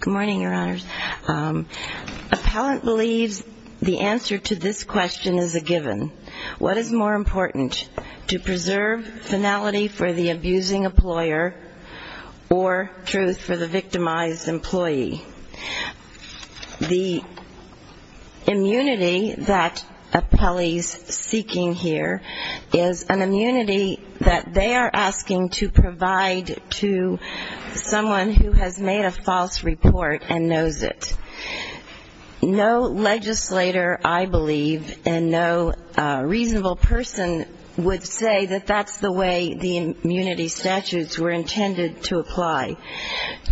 Good morning, your honors. Appellant believes the answer to this question is a given. What is more important, to preserve finality for the abusing employer or truth for the victimized employee? The immunity that appellees seeking here is an immunity that they are asking to provide to someone who has made a false report and knows it. No legislator, I believe, and no reasonable person would say that that's the way the immunity statutes were intended to apply.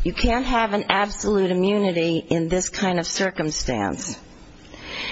You can't have an absolute immunity in this kind of circumstance.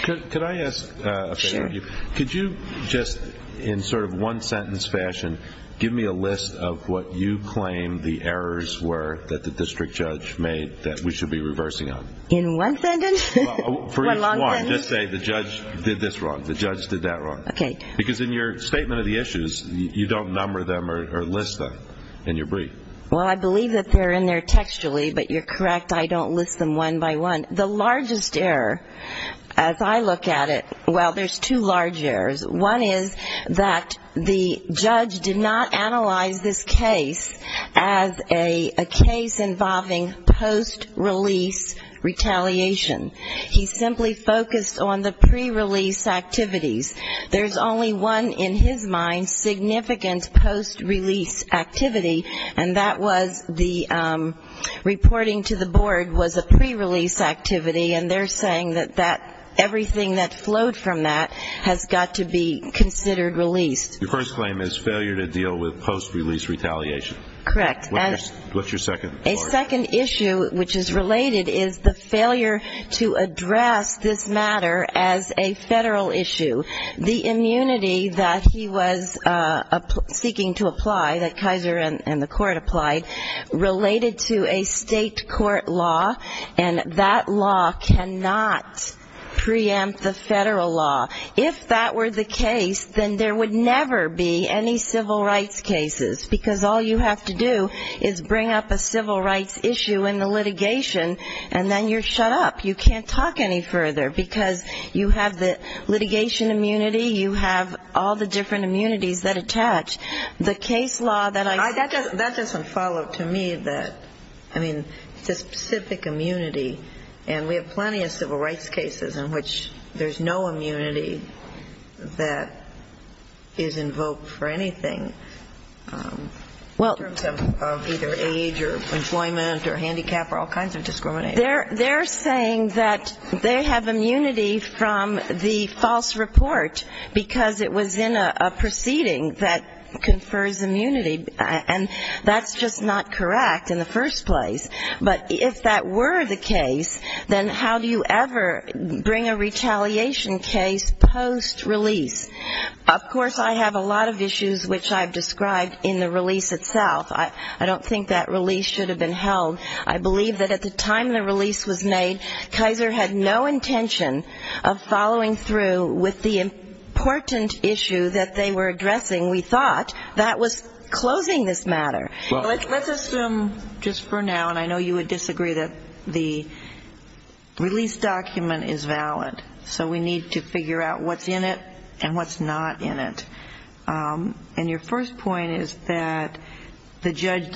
Could I ask a favor of you? Sure. Could you just, in sort of one sentence fashion, give me a list of what you claim the errors were that the district judge made that we should be reversing on? In one sentence? Well, for each one, just say the judge did this wrong, the judge did that wrong. Okay. Because in your statement of the issues, you don't number them or list them in your brief. Well, I believe that they're in there textually, but you're correct, I don't list them one by one. The largest error, as I look at it, well, there's two large errors. One is that the judge did not analyze this case as a case involving post-release retaliation. He simply focused on the pre-release activities. There's only one, in his mind, significant post-release activity, and that was the reporting to the board was a pre-release activity, and they're saying that everything that flowed from that has got to be considered released. Your first claim is failure to deal with post-release retaliation. Correct. What's your second? A second issue which is related is the failure to address this matter as a federal issue. The immunity that he was seeking to apply, that Kaiser and the court applied, related to a state court law, and that law cannot preempt the federal law. If that were the case, then there would never be any civil rights cases, because all you have to do is bring up a civil rights issue in the litigation, and then you're shut up. You can't talk any further, because you have the litigation immunity. You have all the different immunities that attach. The case law that I see. That doesn't follow, to me. I mean, it's a specific immunity, and we have plenty of civil rights cases in which there's no immunity that is invoked for anything in terms of either age or employment or handicap or all kinds of discrimination. They're saying that they have immunity from the false report, because it was in a proceeding that confers immunity, and that's just not correct in the first place. But if that were the case, then how do you ever bring a retaliation case post-release? Of course, I have a lot of issues which I've described in the release itself. I don't think that release should have been held. I believe that at the time the release was made, Kaiser had no intention of following through with the important issue that they were addressing. We thought that was closing this matter. Let's assume just for now, and I know you would disagree, that the release document is valid, so we need to figure out what's in it and what's not in it. And your first point is that the judge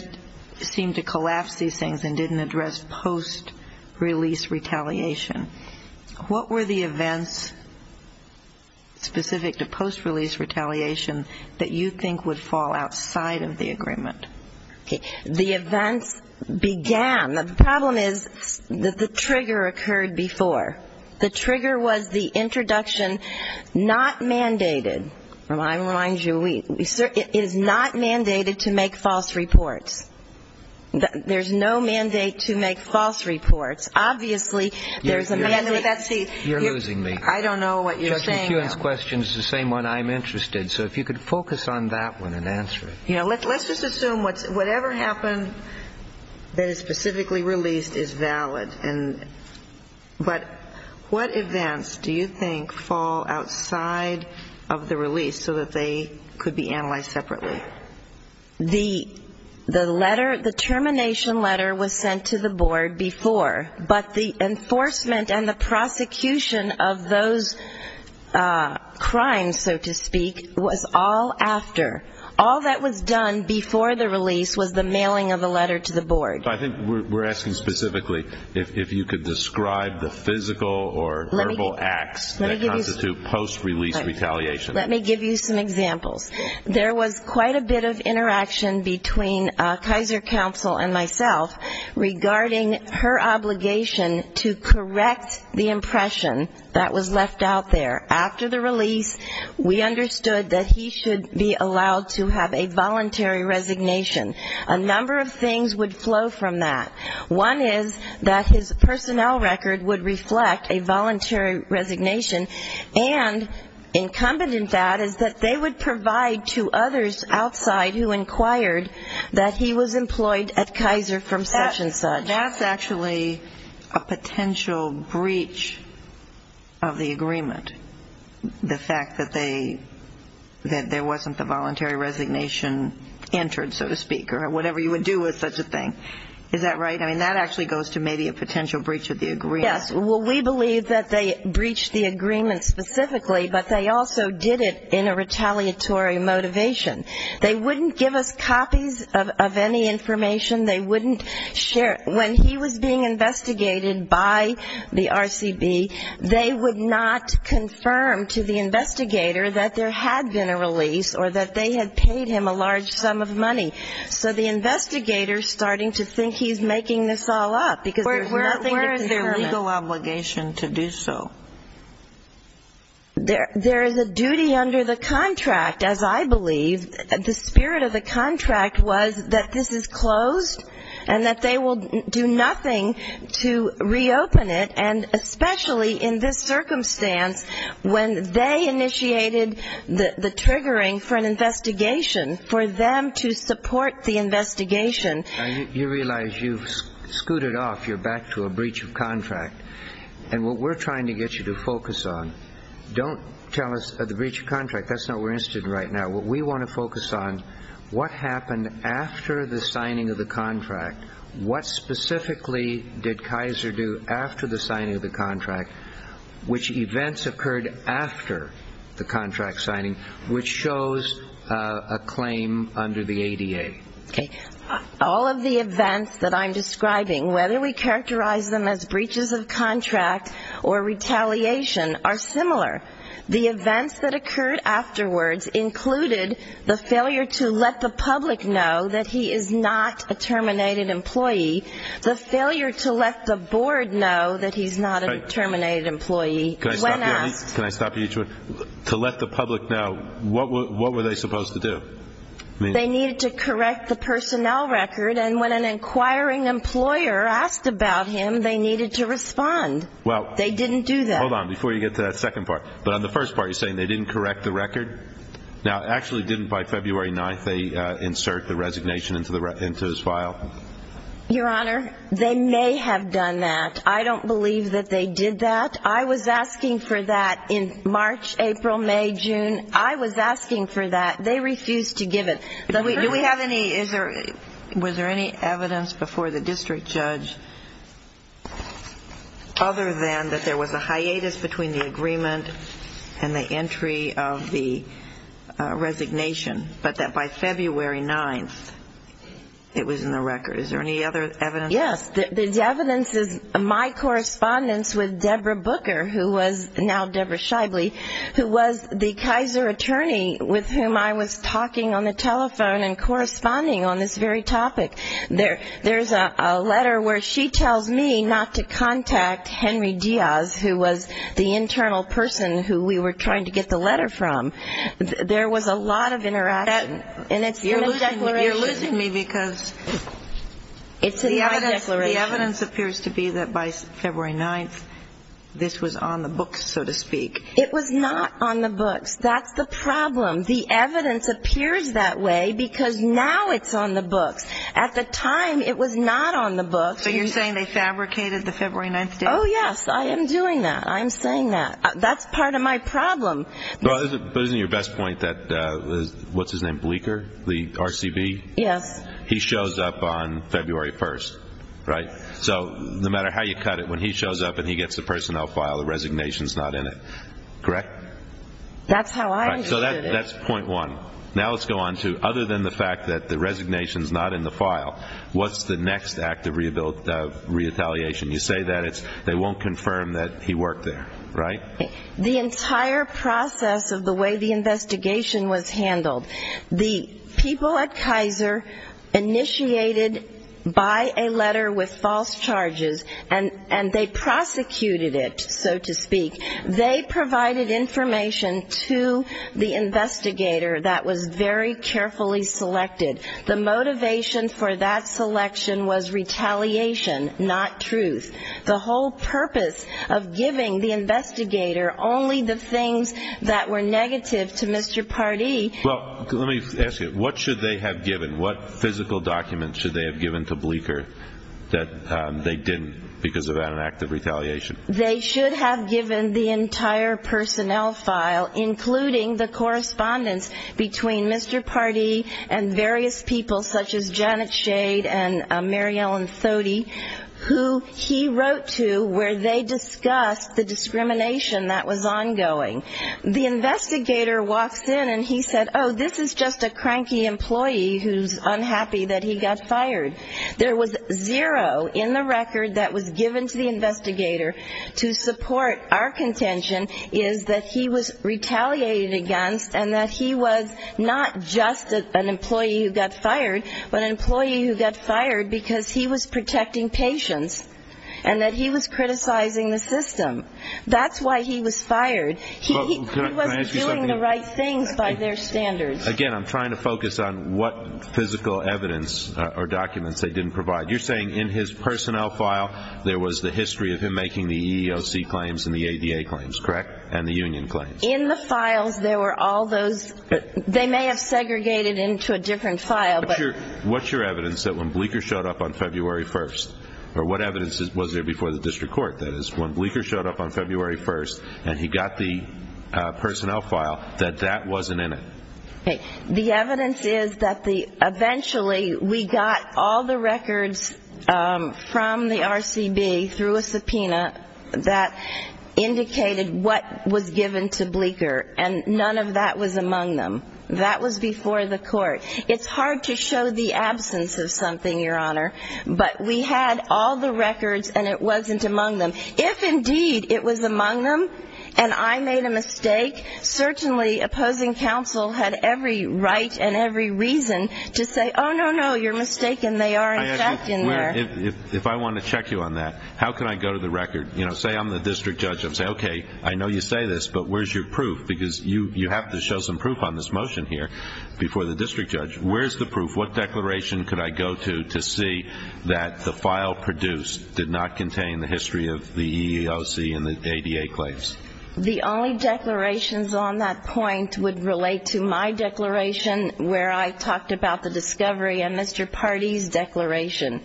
seemed to collapse these things and didn't address post-release retaliation. What were the events specific to post-release retaliation that you think would fall outside of the agreement? The events began. The problem is that the trigger occurred before. The trigger was the introduction not mandated. I remind you, it is not mandated to make false reports. There's no mandate to make false reports. Obviously, there's a mandate. You're losing me. I don't know what you're saying. Judge McEwen's question is the same one I'm interested. So if you could focus on that one and answer it. Let's just assume whatever happened that is specifically released is valid. But what events do you think fall outside of the release so that they could be analyzed separately? The letter, the termination letter, was sent to the board before. But the enforcement and the prosecution of those crimes, so to speak, was all after. All that was done before the release was the mailing of the letter to the board. I think we're asking specifically if you could describe the physical or verbal acts that constitute post-release retaliation. Let me give you some examples. There was quite a bit of interaction between Kaiser Counsel and myself regarding her obligation to correct the impression that was left out there. After the release, we understood that he should be allowed to have a voluntary resignation. A number of things would flow from that. One is that his personnel record would reflect a voluntary resignation, and incumbent in that is that they would provide to others outside who inquired that he was employed at Kaiser from such and such. That's actually a potential breach of the agreement, the fact that there wasn't the voluntary resignation entered, so to speak, or whatever you would do with such a thing. Is that right? I mean, that actually goes to maybe a potential breach of the agreement. Yes. Well, we believe that they breached the agreement specifically, but they also did it in a retaliatory motivation. They wouldn't give us copies of any information. They wouldn't share. When he was being investigated by the RCB, they would not confirm to the investigator that there had been a release or that they had paid him a large sum of money. So the investigator's starting to think he's making this all up, because there's nothing to determine. Where is their legal obligation to do so? There is a duty under the contract, as I believe. The spirit of the contract was that this is closed and that they will do nothing to reopen it, and especially in this circumstance when they initiated the triggering for an investigation, for them to support the investigation. You realize you've scooted off. You're back to a breach of contract. And what we're trying to get you to focus on, don't tell us the breach of contract. That's not what we're interested in right now. What we want to focus on, what happened after the signing of the contract? What specifically did Kaiser do after the signing of the contract? Which events occurred after the contract signing? Which shows a claim under the ADA? Okay. All of the events that I'm describing, whether we characterize them as breaches of contract or retaliation, are similar. The events that occurred afterwards included the failure to let the public know that he is not a terminated employee, the failure to let the board know that he's not a terminated employee. When asked to let the public know, what were they supposed to do? They needed to correct the personnel record. And when an inquiring employer asked about him, they needed to respond. They didn't do that. Hold on. Before you get to that second part. But on the first part, you're saying they didn't correct the record? Now, actually, didn't by February 9th they insert the resignation into his file? Your Honor, they may have done that. I don't believe that they did that. I was asking for that in March, April, May, June. I was asking for that. They refused to give it. Do we have any – was there any evidence before the district judge, other than that there was a hiatus between the agreement and the entry of the resignation, but that by February 9th it was in the record? Is there any other evidence? Yes. The evidence is my correspondence with Deborah Booker, who was now Deborah Shively, who was the Kaiser attorney with whom I was talking on the telephone and corresponding on this very topic. There's a letter where she tells me not to contact Henry Diaz, who was the internal person who we were trying to get the letter from. There was a lot of interaction. And it's in the declaration. You're losing me because the evidence appears to be that by February 9th this was on the books, so to speak. It was not on the books. That's the problem. The evidence appears that way because now it's on the books. At the time it was not on the books. So you're saying they fabricated the February 9th date? Oh, yes. I am doing that. I am saying that. That's part of my problem. But isn't your best point that – what's his name, Bleeker, the RCB? Yes. He shows up on February 1st, right? So no matter how you cut it, when he shows up and he gets the personnel file, the resignation is not in it, correct? That's how I understood it. So that's point one. Now let's go on to other than the fact that the resignation is not in the file, what's the next act of retaliation? You say that they won't confirm that he worked there, right? The entire process of the way the investigation was handled. The people at Kaiser initiated by a letter with false charges and they prosecuted it, so to speak. They provided information to the investigator that was very carefully selected. The motivation for that selection was retaliation, not truth. The whole purpose of giving the investigator only the things that were negative to Mr. Pardee Well, let me ask you, what should they have given? What physical documents should they have given to Bleeker that they didn't because of an act of retaliation? They should have given the entire personnel file, including the correspondence between Mr. Pardee and various people such as Janet Shade and Mary Ellen Thodey, who he wrote to where they discussed the discrimination that was ongoing. The investigator walks in and he said, oh, this is just a cranky employee who's unhappy that he got fired. There was zero in the record that was given to the investigator to support our contention is that he was retaliated against and that he was not just an employee who got fired, but an employee who got fired because he was protecting patients and that he was criticizing the system. That's why he was fired. He wasn't doing the right things by their standards. Again, I'm trying to focus on what physical evidence or documents they didn't provide. You're saying in his personnel file there was the history of him making the EEOC claims and the ADA claims, correct, and the union claims? In the files there were all those. They may have segregated into a different file. What's your evidence that when Bleeker showed up on February 1st, or what evidence was there before the district court, that is, when Bleeker showed up on February 1st and he got the personnel file, that that wasn't in it? The evidence is that eventually we got all the records from the RCB through a subpoena that indicated what was given to Bleeker, and none of that was among them. That was before the court. It's hard to show the absence of something, Your Honor. But we had all the records, and it wasn't among them. If, indeed, it was among them and I made a mistake, certainly opposing counsel had every right and every reason to say, oh, no, no, you're mistaken. They are, in fact, in there. If I want to check you on that, how can I go to the record? Say I'm the district judge. I'm going to say, okay, I know you say this, but where's your proof? Because you have to show some proof on this motion here before the district judge. Where's the proof? What declaration could I go to to see that the file produced did not contain the history of the EEOC and the ADA claims? The only declarations on that point would relate to my declaration where I talked about the discovery and Mr. Pardee's declaration.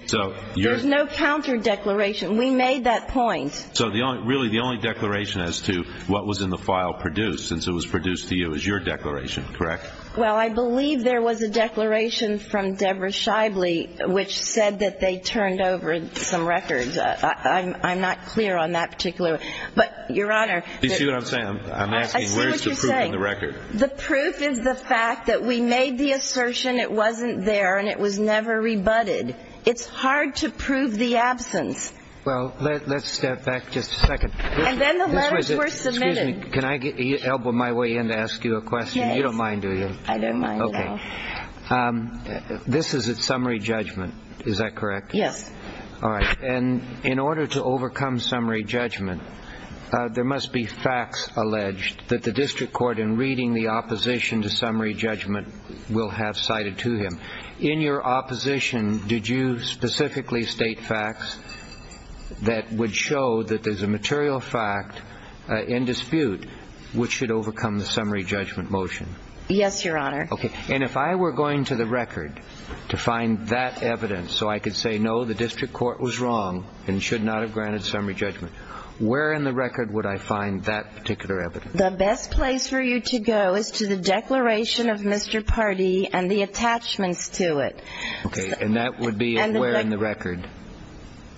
There's no counter-declaration. We made that point. So really the only declaration as to what was in the file produced, since it was produced to you, is your declaration, correct? Well, I believe there was a declaration from Deborah Shibley which said that they turned over some records. I'm not clear on that particular one. But, Your Honor, I see what you're saying. The proof is the fact that we made the assertion it wasn't there and it was never rebutted. It's hard to prove the absence. Well, let's step back just a second. And then the letters were submitted. Excuse me. Can I elbow my way in to ask you a question? You don't mind, do you? I don't mind at all. Okay. This is a summary judgment. Is that correct? Yes. All right. And in order to overcome summary judgment, there must be facts alleged that the district court, in reading the opposition to summary judgment, will have cited to him. In your opposition, did you specifically state facts that would show that there's a material fact in dispute which should overcome the summary judgment motion? Yes, Your Honor. Okay. And if I were going to the record to find that evidence so I could say, no, the district court was wrong and should not have granted summary judgment, where in the record would I find that particular evidence? The best place for you to go is to the declaration of Mr. Pardee and the attachments to it. Okay. And that would be where in the record?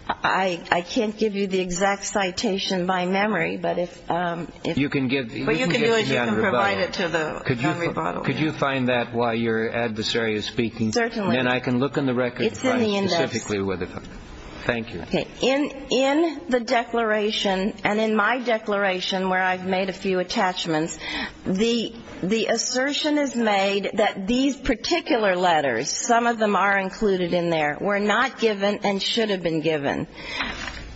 I can't give you the exact citation by memory. But if you can get the non-rebuttal. What you can do is you can provide it to the non-rebuttal. Could you find that while your adversary is speaking? Certainly. Then I can look in the record. It's in the index. Specifically. Thank you. Okay. In the declaration and in my declaration where I've made a few attachments, the assertion is made that these particular letters, some of them are included in there, were not given and should have been given.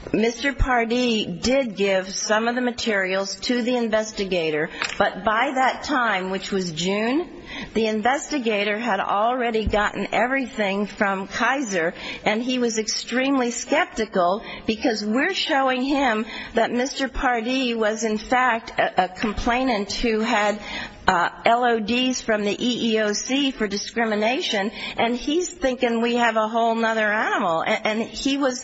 Mr. Pardee did give some of the materials to the investigator, but by that time, which was June, the investigator had already gotten everything from Kaiser, and he was extremely skeptical because we're showing him that Mr. Pardee was, in fact, a complainant who had LODs from the EEOC for discrimination, and he's thinking we have a whole other animal. And he was,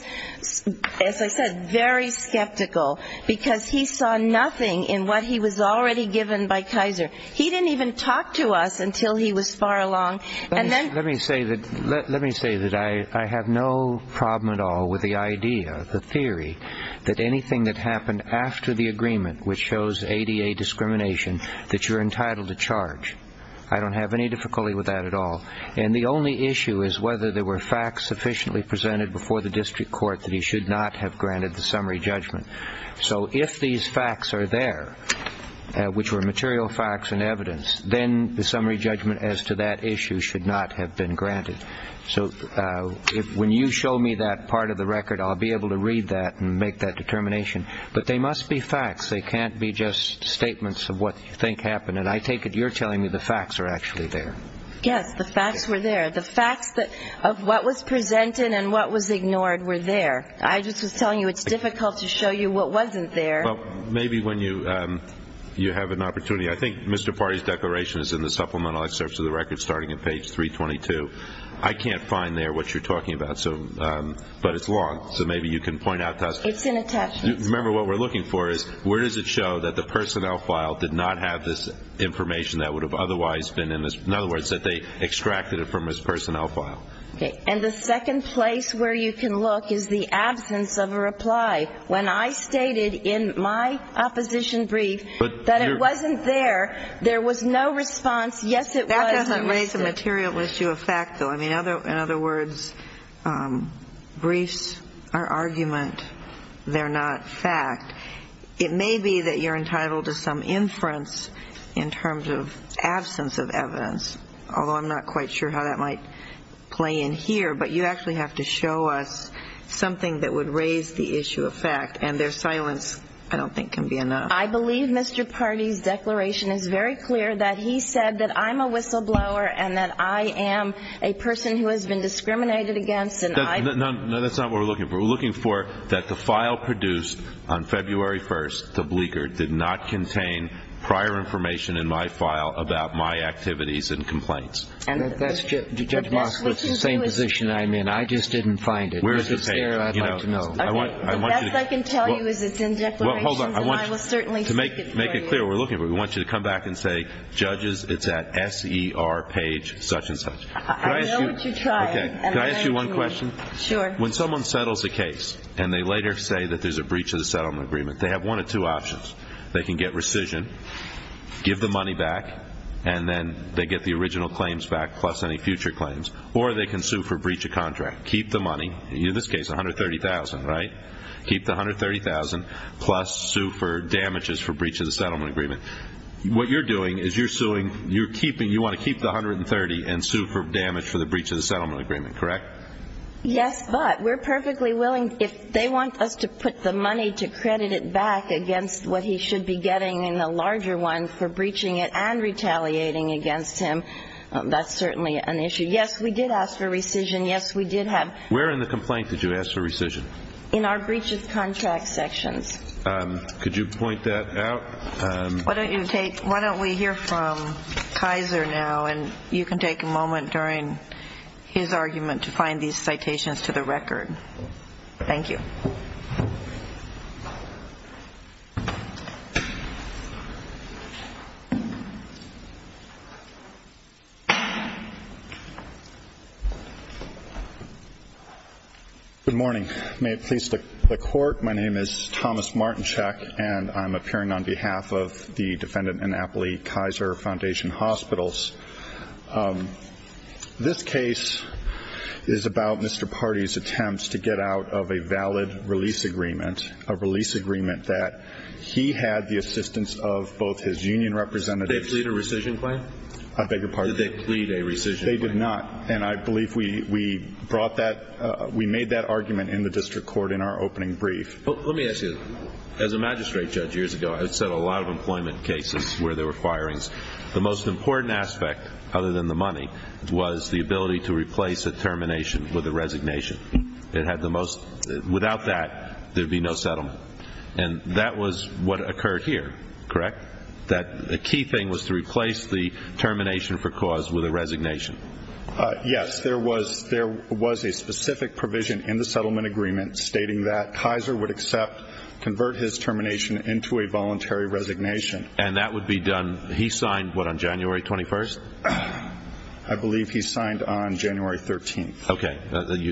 as I said, very skeptical because he saw nothing in what he was already given by Kaiser. He didn't even talk to us until he was far along. Let me say that I have no problem at all with the idea, the theory, that anything that happened after the agreement, which shows ADA discrimination, that you're entitled to charge. I don't have any difficulty with that at all. And the only issue is whether there were facts sufficiently presented before the district court that he should not have granted the summary judgment. So if these facts are there, which were material facts and evidence, then the summary judgment as to that issue should not have been granted. So when you show me that part of the record, I'll be able to read that and make that determination. But they must be facts. They can't be just statements of what you think happened. And I take it you're telling me the facts are actually there. Yes, the facts were there. The facts of what was presented and what was ignored were there. I just was telling you it's difficult to show you what wasn't there. Well, maybe when you have an opportunity. I think Mr. Pardee's declaration is in the supplemental excerpts of the record starting at page 322. I can't find there what you're talking about, but it's long, so maybe you can point out to us. It's in attachments. Remember, what we're looking for is where does it show that the personnel file did not have this information that would have otherwise been in this. In other words, that they extracted it from his personnel file. And the second place where you can look is the absence of a reply. When I stated in my opposition brief that it wasn't there, there was no response. Yes, it was. That doesn't raise a material issue of fact, though. I mean, in other words, briefs are argument. They're not fact. It may be that you're entitled to some inference in terms of absence of evidence, although I'm not quite sure how that might play in here. But you actually have to show us something that would raise the issue of fact, and their silence I don't think can be enough. I believe Mr. Pardee's declaration is very clear that he said that I'm a whistleblower and that I am a person who has been discriminated against. No, that's not what we're looking for. We're looking for that the file produced on February 1st, the bleaker, did not contain prior information in my file about my activities and complaints. And that's just the same position I'm in. I just didn't find it. Where's the page? I'd like to know. The best I can tell you is it's in declarations, and I will certainly seek it for you. Well, hold on. To make it clear, we're looking for it. We want you to come back and say, judges, it's at SER page such and such. I know what you're trying. Can I ask you one question? Sure. When someone settles a case and they later say that there's a breach of the settlement agreement, they have one of two options. They can get rescission, give the money back, and then they get the original claims back plus any future claims. Or they can sue for breach of contract, keep the money, in this case $130,000, right? Keep the $130,000 plus sue for damages for breach of the settlement agreement. What you're doing is you're suing, you want to keep the $130,000 and sue for damage for the breach of the settlement agreement, correct? Yes, but we're perfectly willing, if they want us to put the money to credit it back against what he should be getting in the larger one for breaching it and retaliating against him, that's certainly an issue. Yes, we did ask for rescission. Yes, we did have. Where in the complaint did you ask for rescission? In our breach of contract sections. Could you point that out? Why don't you take, why don't we hear from Kaiser now, and you can take a moment during his argument to find these citations to the record. Thank you. Good morning. May it please the Court, my name is Thomas Martinschak, and I'm appearing on behalf of the defendant Annapolis Kaiser Foundation Hospitals. This case is about Mr. Party's attempts to get out of a valid release agreement, a release agreement that he had the assistance of both his union representatives. Did they plead a rescission claim? I beg your pardon? Did they plead a rescission claim? They did not, and I believe we brought that, we made that argument in the district court in our opening brief. Let me ask you, as a magistrate judge years ago, I've said a lot of employment cases where there were firings. The most important aspect, other than the money, was the ability to replace a termination with a resignation. It had the most, without that, there'd be no settlement. And that was what occurred here, correct? That the key thing was to replace the termination for cause with a resignation. Yes, there was a specific provision in the settlement agreement stating that Kaiser would accept, convert his termination into a voluntary resignation. And that would be done, he signed what, on January 21st? I believe he signed on January 13th. Okay,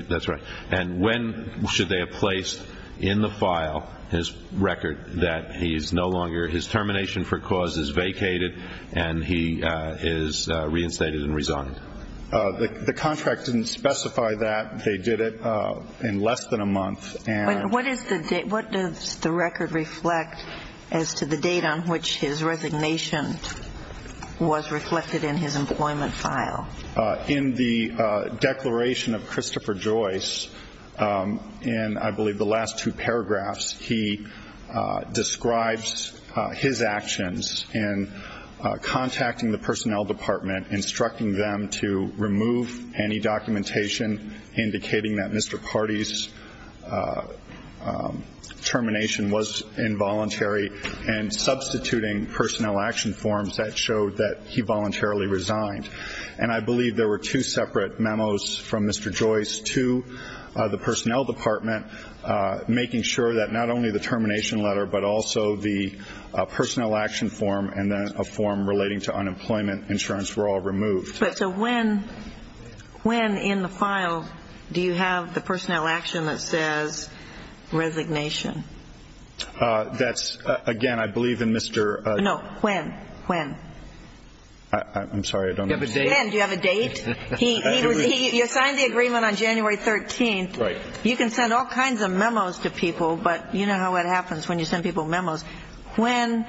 that's right. And when should they have placed in the file his record that he is no longer, his termination for cause is vacated and he is reinstated and resigned? The contract didn't specify that. They did it in less than a month. What does the record reflect as to the date on which his resignation was reflected in his employment file? In the declaration of Christopher Joyce, in I believe the last two paragraphs, he describes his actions in contacting the personnel department, instructing them to remove any documentation, indicating that Mr. Party's termination was involuntary, and substituting personnel action forms that showed that he voluntarily resigned. And I believe there were two separate memos from Mr. Joyce to the personnel department, making sure that not only the termination letter but also the personnel action form and then a form relating to unemployment insurance were all removed. So when in the file do you have the personnel action that says resignation? That's, again, I believe in Mr. No, when, when? I'm sorry, I don't know. Do you have a date? You signed the agreement on January 13th. Right. You can send all kinds of memos to people, but you know how it happens when you send people memos. When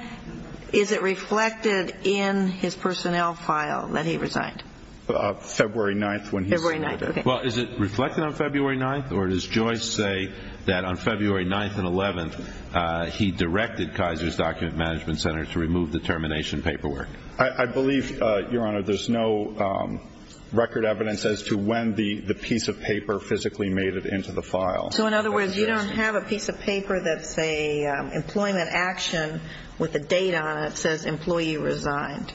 is it reflected in his personnel file that he resigned? February 9th. February 9th, okay. Well, is it reflected on February 9th? Or does Joyce say that on February 9th and 11th he directed Kaiser's document management center to remove the termination paperwork? I believe, Your Honor, there's no record evidence as to when the piece of paper physically made it into the file. So, in other words, you don't have a piece of paper that says employment action with a date on it that says employee resigned.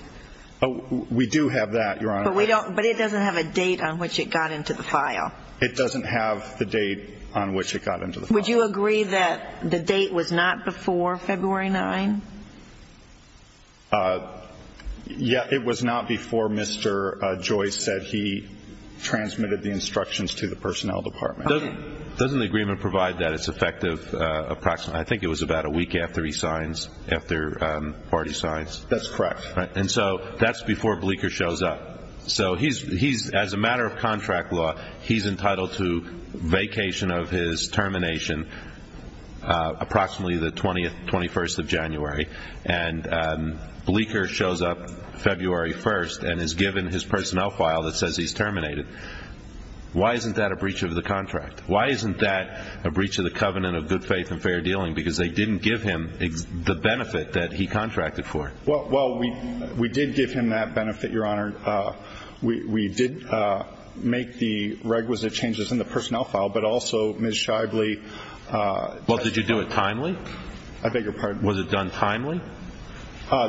We do have that, Your Honor. But it doesn't have a date on which it got into the file. It doesn't have the date on which it got into the file. Would you agree that the date was not before February 9th? Yeah, it was not before Mr. Joyce said he transmitted the instructions to the personnel department. Doesn't the agreement provide that it's effective approximately? I think it was about a week after he signs, after Hardy signs. That's correct. And so that's before Bleeker shows up. So he's, as a matter of contract law, he's entitled to vacation of his termination approximately the 20th, 21st of January. And Bleeker shows up February 1st and is given his personnel file that says he's terminated. Why isn't that a breach of the contract? Why isn't that a breach of the covenant of good faith and fair dealing? Because they didn't give him the benefit that he contracted for. Well, we did give him that benefit, Your Honor. We did make the requisite changes in the personnel file, but also Ms. Shively. Well, did you do it timely? I beg your pardon? Was it done timely?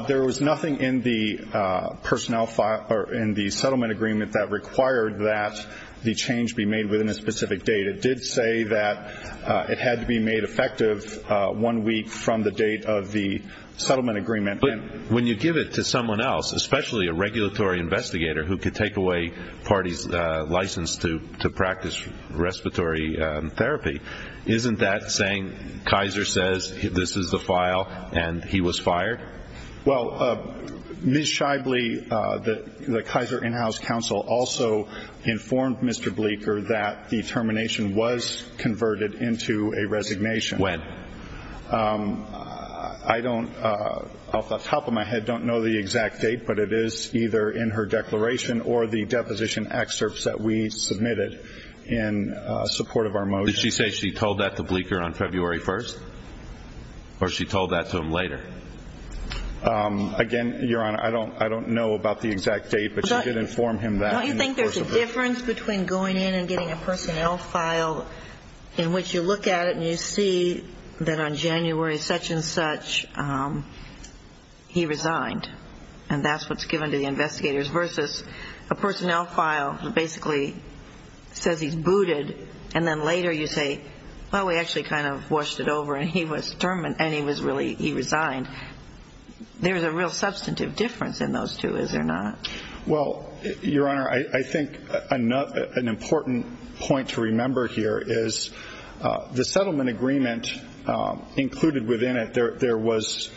There was nothing in the personnel file or in the settlement agreement that required that the change be made within a specific date. It did say that it had to be made effective one week from the date of the settlement agreement. But when you give it to someone else, especially a regulatory investigator who could take away parties' license to practice respiratory therapy, isn't that saying Kaiser says this is the file and he was fired? Well, Ms. Shively, the Kaiser in-house counsel, also informed Mr. Bleeker that the termination was converted into a resignation. When? I don't, off the top of my head, don't know the exact date, but it is either in her declaration or the deposition excerpts that we submitted in support of our motion. Did she say she told that to Bleeker on February 1st? Or she told that to him later? Again, Your Honor, I don't know about the exact date, but she did inform him that. Don't you think there's a difference between going in and getting a personnel file in which you look at it and you see that on January such and such, he resigned, and that's what's given to the investigators, versus a personnel file that basically says he's booted, and then later you say, well, we actually kind of washed it over and he was terminated and he resigned. There's a real substantive difference in those two, is there not? Well, Your Honor, I think an important point to remember here is the settlement agreement included within it, there was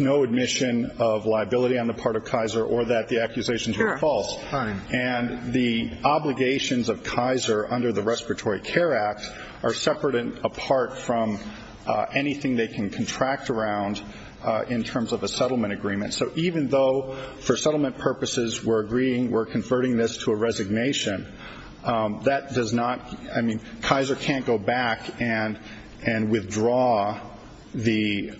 no admission of liability on the part of Kaiser or that the accusations were false. And the obligations of Kaiser under the Respiratory Care Act are separate and apart from anything they can contract around in terms of a settlement agreement. So even though for settlement purposes we're agreeing we're converting this to a resignation, Kaiser can't go back and withdraw the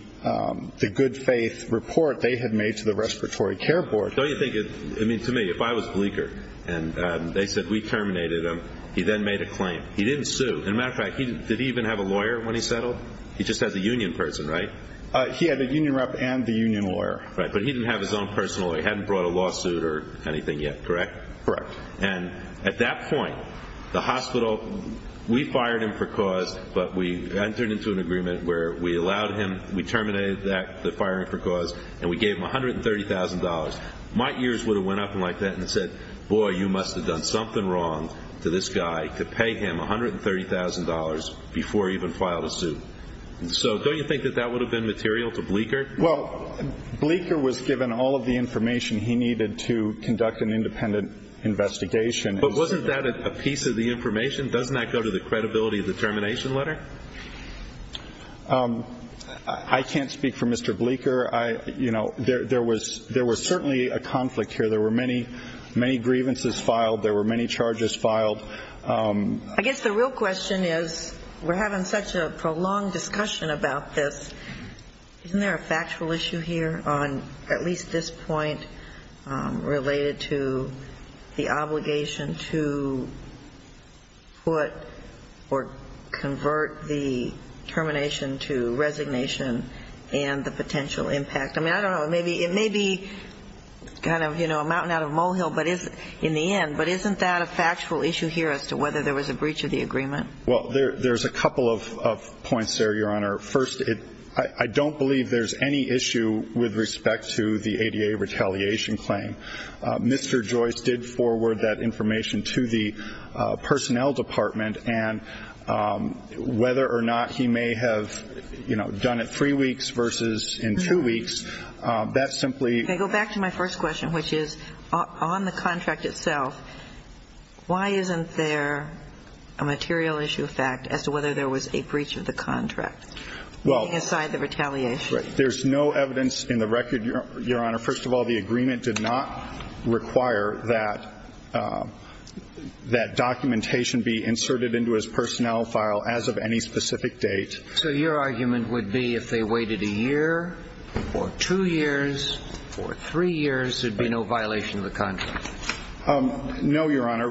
good faith report they had made to the Respiratory Care Board. Don't you think, to me, if I was Bleeker and they said we terminated him, he then made a claim. He didn't sue. As a matter of fact, did he even have a lawyer when he settled? He just has a union person, right? He had a union rep and the union lawyer. Right, but he didn't have his own personal lawyer. He hadn't brought a lawsuit or anything yet, correct? Correct. And at that point, the hospital, we fired him for cause, but we entered into an agreement where we allowed him, we terminated the firing for cause, and we gave him $130,000. My ears would have went up and said, boy, you must have done something wrong to this guy to pay him $130,000 before he even filed a suit. So don't you think that that would have been material to Bleeker? Well, Bleeker was given all of the information he needed to conduct an independent investigation. But wasn't that a piece of the information? Doesn't that go to the credibility of the termination letter? I can't speak for Mr. Bleeker. You know, there was certainly a conflict here. There were many grievances filed. There were many charges filed. I guess the real question is we're having such a prolonged discussion about this. Isn't there a factual issue here on at least this point related to the obligation to put or convert the termination to resignation and the potential impact? I mean, I don't know. It may be kind of, you know, a mountain out of a molehill in the end, but isn't that a factual issue here as to whether there was a breach of the agreement? Well, there's a couple of points there, Your Honor. First, I don't believe there's any issue with respect to the ADA retaliation claim. Mr. Joyce did forward that information to the personnel department, and whether or not he may have, you know, done it three weeks versus in two weeks, that simply ---- If I go back to my first question, which is on the contract itself, why isn't there a material issue of fact as to whether there was a breach of the contract? Well, there's no evidence in the record, Your Honor. First of all, the agreement did not require that that documentation be inserted into his personnel file as of any specific date. So your argument would be if they waited a year or two years or three years, there would be no violation of the contract? No, Your Honor.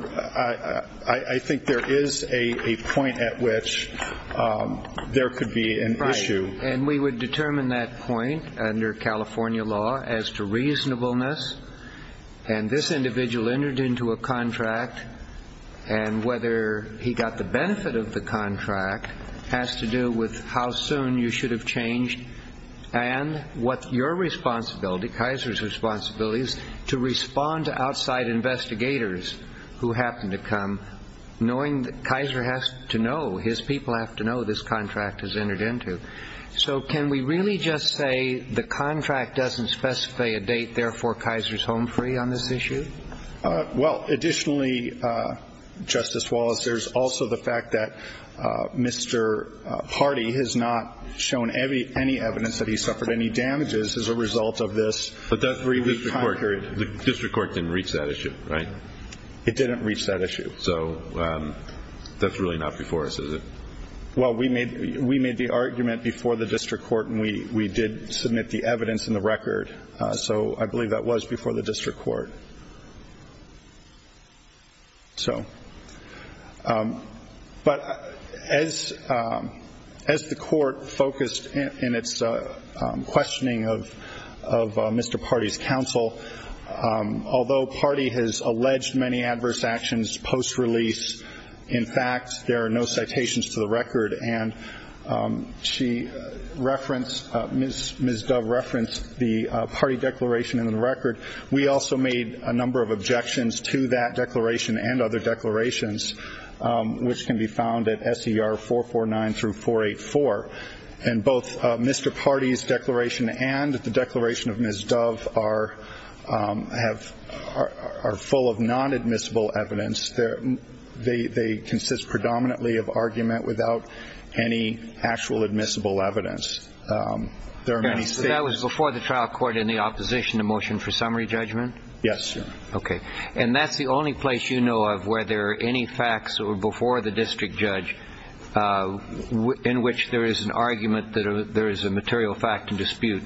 I think there is a point at which there could be an issue. Right. And we would determine that point under California law as to reasonableness, and this individual entered into a contract, and whether he got the benefit of the contract has to do with how soon you should have changed and what your responsibility, Kaiser's responsibility, is to respond to outside investigators who happen to come, knowing that Kaiser has to know, his people have to know this contract has entered into. So can we really just say the contract doesn't specify a date, therefore Kaiser's home free on this issue? Well, additionally, Justice Wallace, there's also the fact that Mr. Hardy has not shown any evidence that he suffered any damages as a result of this three-week time period. But the district court didn't reach that issue, right? It didn't reach that issue. So that's really not before us, is it? Well, we made the argument before the district court, and we did submit the evidence in the record. So I believe that was before the district court. So, but as the court focused in its questioning of Mr. Hardy's counsel, although Hardy has alleged many adverse actions post-release, in fact there are no citations to the record, and she referenced, Ms. Dove referenced the Hardy declaration in the record. We also made a number of objections to that declaration and other declarations, which can be found at SER 449 through 484. And both Mr. Hardy's declaration and the declaration of Ms. Dove are full of non-admissible evidence. They consist predominantly of argument without any actual admissible evidence. There are many statements. So that was before the trial court in the opposition to motion for summary judgment? Yes. Okay. And that's the only place you know of where there are any facts or before the district judge in which there is an argument that there is a material fact and dispute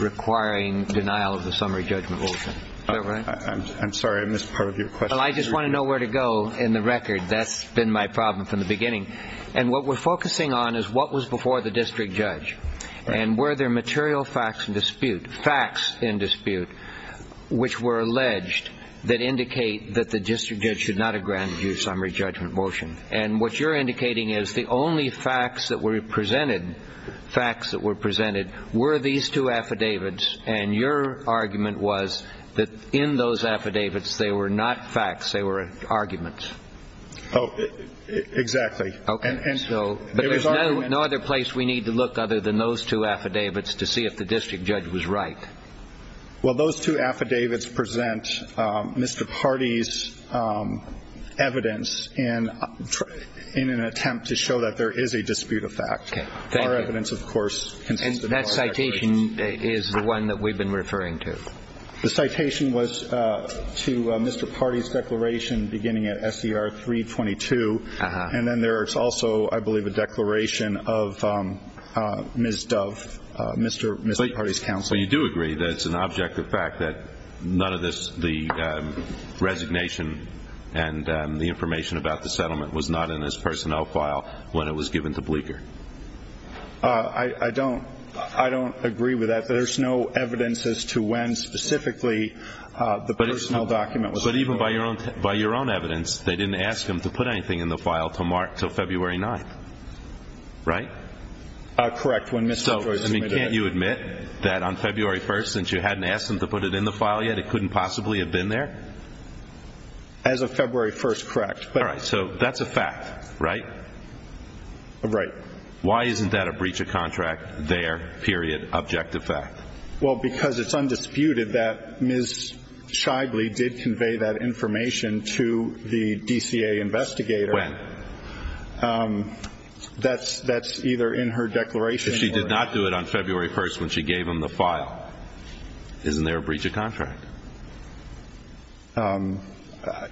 requiring denial of the summary judgment motion. Is that right? I'm sorry. I missed part of your question. Well, I just want to know where to go in the record. That's been my problem from the beginning. And what we're focusing on is what was before the district judge, and were there material facts and dispute, facts in dispute, which were alleged that indicate that the district judge should not have granted you a summary judgment motion. And what you're indicating is the only facts that were presented, facts that were presented, were these two affidavits, and your argument was that in those affidavits they were not facts, they were arguments. Oh, exactly. Okay. But there's no other place we need to look other than those two affidavits to see if the district judge was right. Well, those two affidavits present Mr. Pardee's evidence in an attempt to show that there is a dispute of fact. Okay. Thank you. And that citation is the one that we've been referring to. The citation was to Mr. Pardee's declaration beginning at S.E.R. 322, and then there is also, I believe, a declaration of Ms. Dove, Mr. Pardee's counsel. Well, you do agree that it's an objective fact that none of this, the resignation and the information about the settlement was not in his personnel file when it was given to Bleeker. I don't agree with that. There's no evidence as to when specifically the personnel document was given. But even by your own evidence, they didn't ask him to put anything in the file until February 9th, right? Correct, when Mr. Joyce submitted it. Can't you admit that on February 1st, since you hadn't asked him to put it in the file yet, it couldn't possibly have been there? As of February 1st, correct. All right. So that's a fact, right? Right. Why isn't that a breach of contract there, period, objective fact? Well, because it's undisputed that Ms. Scheible did convey that information to the DCA investigator. When? That's either in her declaration or not. If she did not do it on February 1st when she gave him the file, isn't there a breach of contract? I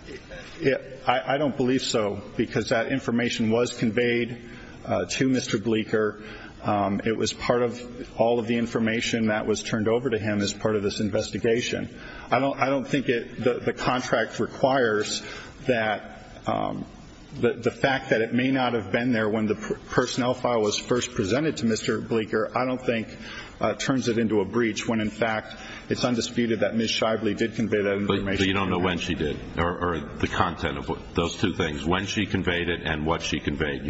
don't believe so, because that information was conveyed to Mr. Bleeker. It was part of all of the information that was turned over to him as part of this investigation. I don't think the contract requires that the fact that it may not have been there when the personnel file was first presented to Mr. Bleeker, I don't think turns it into a breach when, in fact, it's undisputed that Ms. Scheible did convey that information. But you don't know when she did or the content of those two things, when she conveyed it and what she conveyed.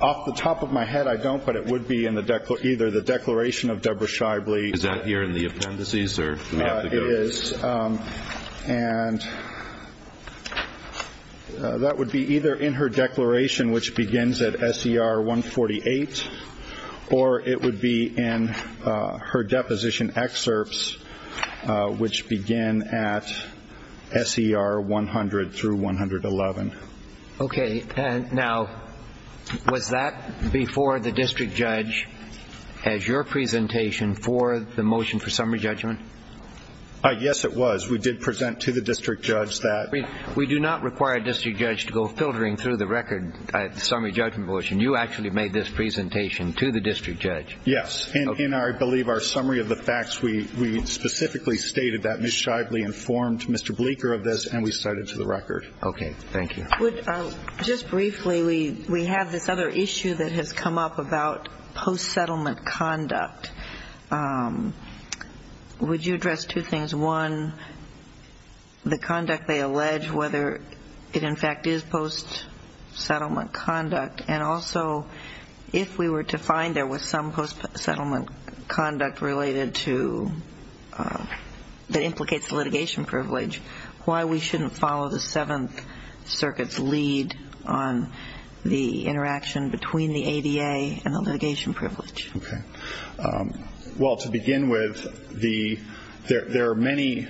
Off the top of my head, I don't, but it would be either the declaration of Deborah Scheible. Is that here in the appendices? It is, and that would be either in her declaration, which begins at SER 148, or it would be in her deposition excerpts, which begin at SER 100 through 111. Okay. Now, was that before the district judge as your presentation for the motion for summary judgment? Yes, it was. We did present to the district judge that. We do not require a district judge to go filtering through the record summary judgment motion. You actually made this presentation to the district judge. Yes. And I believe our summary of the facts, we specifically stated that Ms. Scheible informed Mr. Bleeker of this, and we cited to the record. Okay. Thank you. Just briefly, we have this other issue that has come up about post-settlement conduct. Would you address two things? One, the conduct they allege, whether it in fact is post-settlement conduct, and also if we were to find there was some post-settlement conduct related to, that implicates litigation privilege, why we shouldn't follow the Seventh Circuit's lead on the interaction between the ADA and the litigation privilege? Okay. Well, to begin with, there are many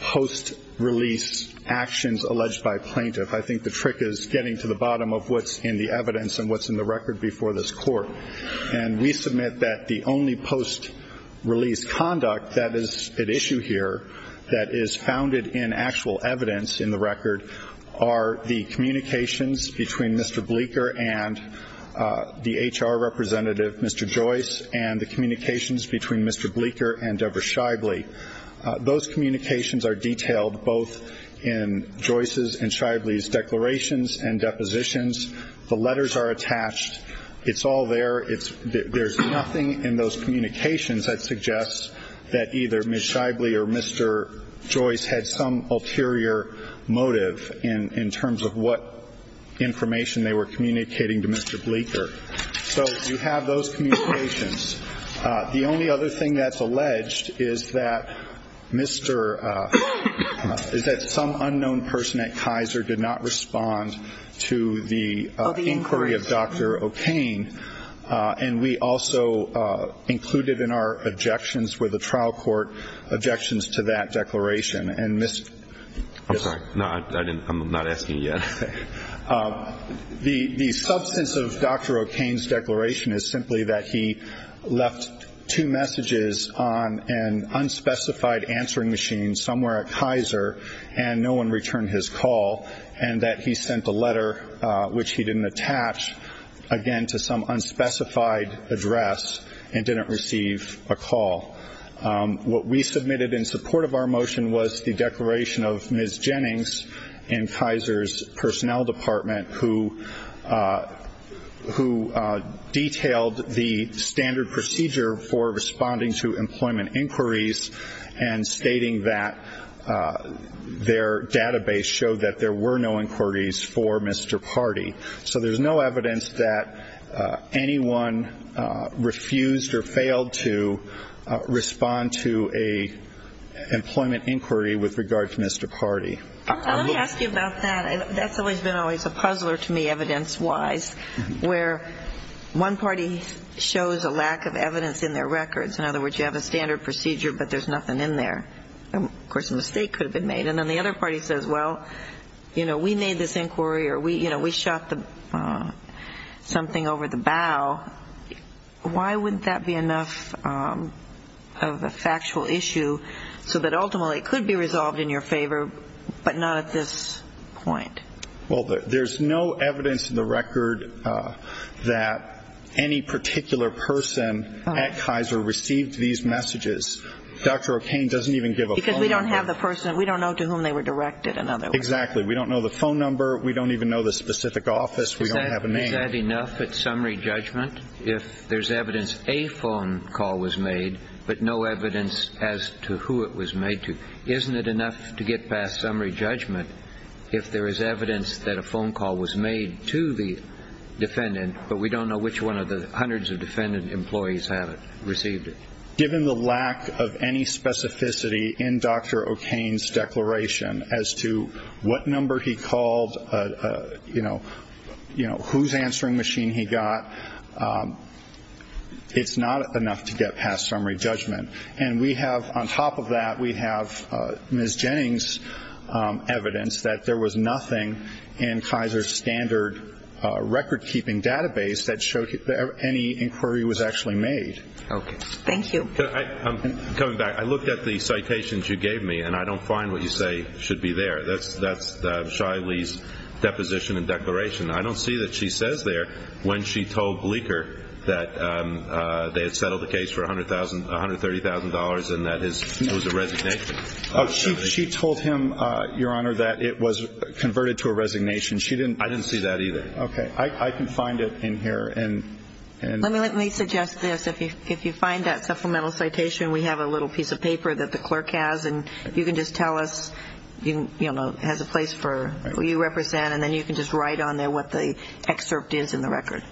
post-release actions alleged by plaintiff. I think the trick is getting to the bottom of what's in the evidence and what's in the record before this court. And we submit that the only post-release conduct that is at issue here that is founded in actual evidence in the record are the communications between Mr. Bleeker and the HR representative, Mr. Joyce, and the communications between Mr. Bleeker and Deborah Scheible. Those communications are detailed both in Joyce's and Scheible's declarations and depositions. The letters are attached. It's all there. There's nothing in those communications that suggests that either Ms. Scheible or Mr. Joyce had some ulterior motive in terms of what information they were communicating to Mr. Bleeker. So you have those communications. The only other thing that's alleged is that Mr. – is that some unknown person at Kaiser did not respond to the inquiry of Dr. O'Kane, and we also included in our objections with the trial court objections to that declaration. And Ms. – I'm sorry. No, I'm not asking you yet. The substance of Dr. O'Kane's declaration is simply that he left two messages on an unspecified answering machine somewhere at Kaiser and no one returned his call, and that he sent a letter, which he didn't attach, again, to some unspecified address and didn't receive a call. What we submitted in support of our motion was the declaration of Ms. Jennings in Kaiser's personnel department who detailed the standard procedure for responding to employment inquiries and stating that their database showed that there were no inquiries for Mr. Pardee. So there's no evidence that anyone refused or failed to respond to an employment inquiry with regard to Mr. Pardee. Let me ask you about that. That's always been always a puzzler to me, evidence-wise, where one party shows a lack of evidence in their records. In other words, you have a standard procedure, but there's nothing in there. Of course, a mistake could have been made. And then the other party says, well, you know, we made this inquiry or, you know, we shot something over the bow. Why wouldn't that be enough of a factual issue so that ultimately it could be resolved in your favor but not at this point? Well, there's no evidence in the record that any particular person at Kaiser received these messages. Dr. O'Kane doesn't even give a phone number. Because we don't have the person. We don't know to whom they were directed, in other words. Exactly. We don't know the phone number. We don't have a name. Isn't that enough at summary judgment if there's evidence a phone call was made but no evidence as to who it was made to? Isn't it enough to get past summary judgment if there is evidence that a phone call was made to the defendant, but we don't know which one of the hundreds of defendant employees received it? Given the lack of any specificity in Dr. O'Kane's declaration as to what number he called, you know, whose answering machine he got, it's not enough to get past summary judgment. And we have, on top of that, we have Ms. Jennings' evidence that there was nothing in Kaiser's standard record-keeping database that showed any inquiry was actually made. Okay. Thank you. I'm coming back. I looked at the citations you gave me, and I don't find what you say should be there. That's Shiley's deposition and declaration. I don't see that she says there when she told Bleeker that they had settled the case for $130,000 and that it was a resignation. She told him, Your Honor, that it was converted to a resignation. I didn't see that either. Okay. I can find it in here. Let me suggest this. If you find that supplemental citation, we have a little piece of paper that the clerk has, and you can just tell us it has a place for who you represent, and then you can just write on there what the excerpt is in the record.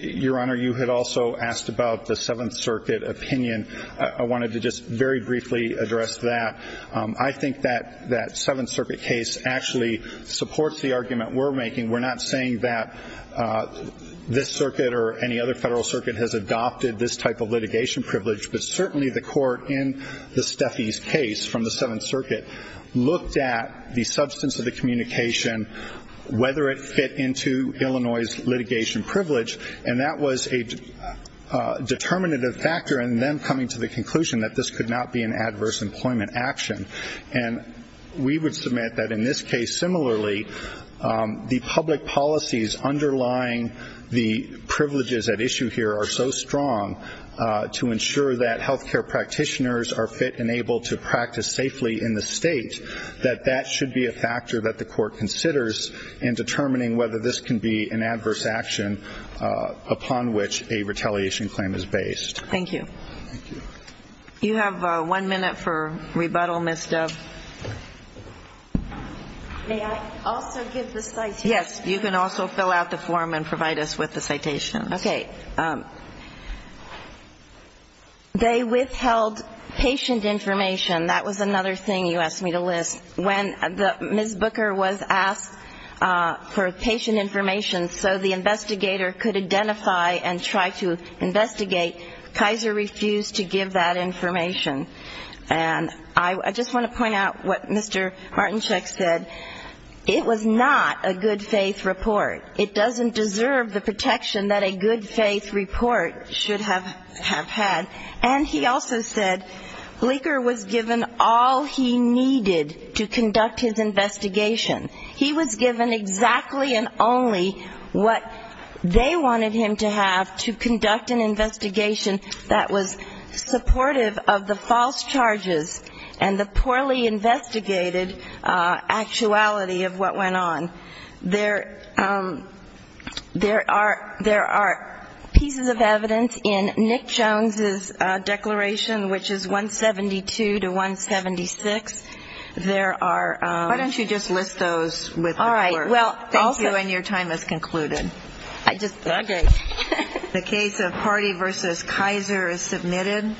Your Honor, you had also asked about the Seventh Circuit opinion. I wanted to just very briefly address that. I think that that Seventh Circuit case actually supports the argument we're making. We're not saying that this circuit or any other federal circuit has adopted this type of litigation privilege, but certainly the court in the Steffies case from the Seventh Circuit looked at the substance of the communication, whether it fit into Illinois' litigation privilege, and that was a determinative factor in them coming to the conclusion that this could not be an adverse employment action. We would submit that in this case, similarly, the public policies underlying the privileges at issue here are so strong to ensure that health care practitioners are fit and able to practice safely in the state that that should be a factor that the court considers in determining whether this can be an adverse action upon which a retaliation claim is based. Thank you. Thank you. We have one minute for rebuttal, Ms. Dove. May I also give the citation? Yes, you can also fill out the form and provide us with the citation. Okay. They withheld patient information. That was another thing you asked me to list. When Ms. Booker was asked for patient information so the investigator could identify and try to investigate, Kaiser refused to give that information. And I just want to point out what Mr. Martinchuk said. It was not a good-faith report. It doesn't deserve the protection that a good-faith report should have had. And he also said Leiker was given all he needed to conduct his investigation. He was given exactly and only what they wanted him to have to conduct an investigation that was supportive of the false charges and the poorly investigated actuality of what went on. There are pieces of evidence in Nick Jones's declaration, which is 172 to 176. Why don't you just list those with the report? Thank you, and your time is concluded. Okay. The case of Hardy v. Kaiser is submitted.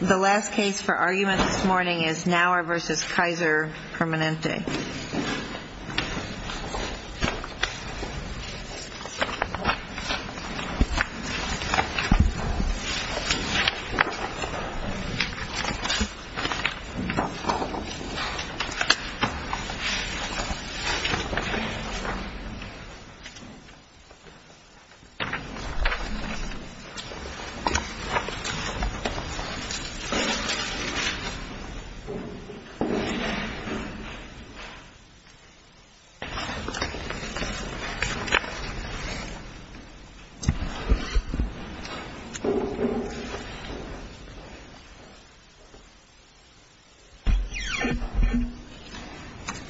The last case for argument this morning is Nauer v. Kaiser Permanente.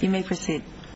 You may proceed.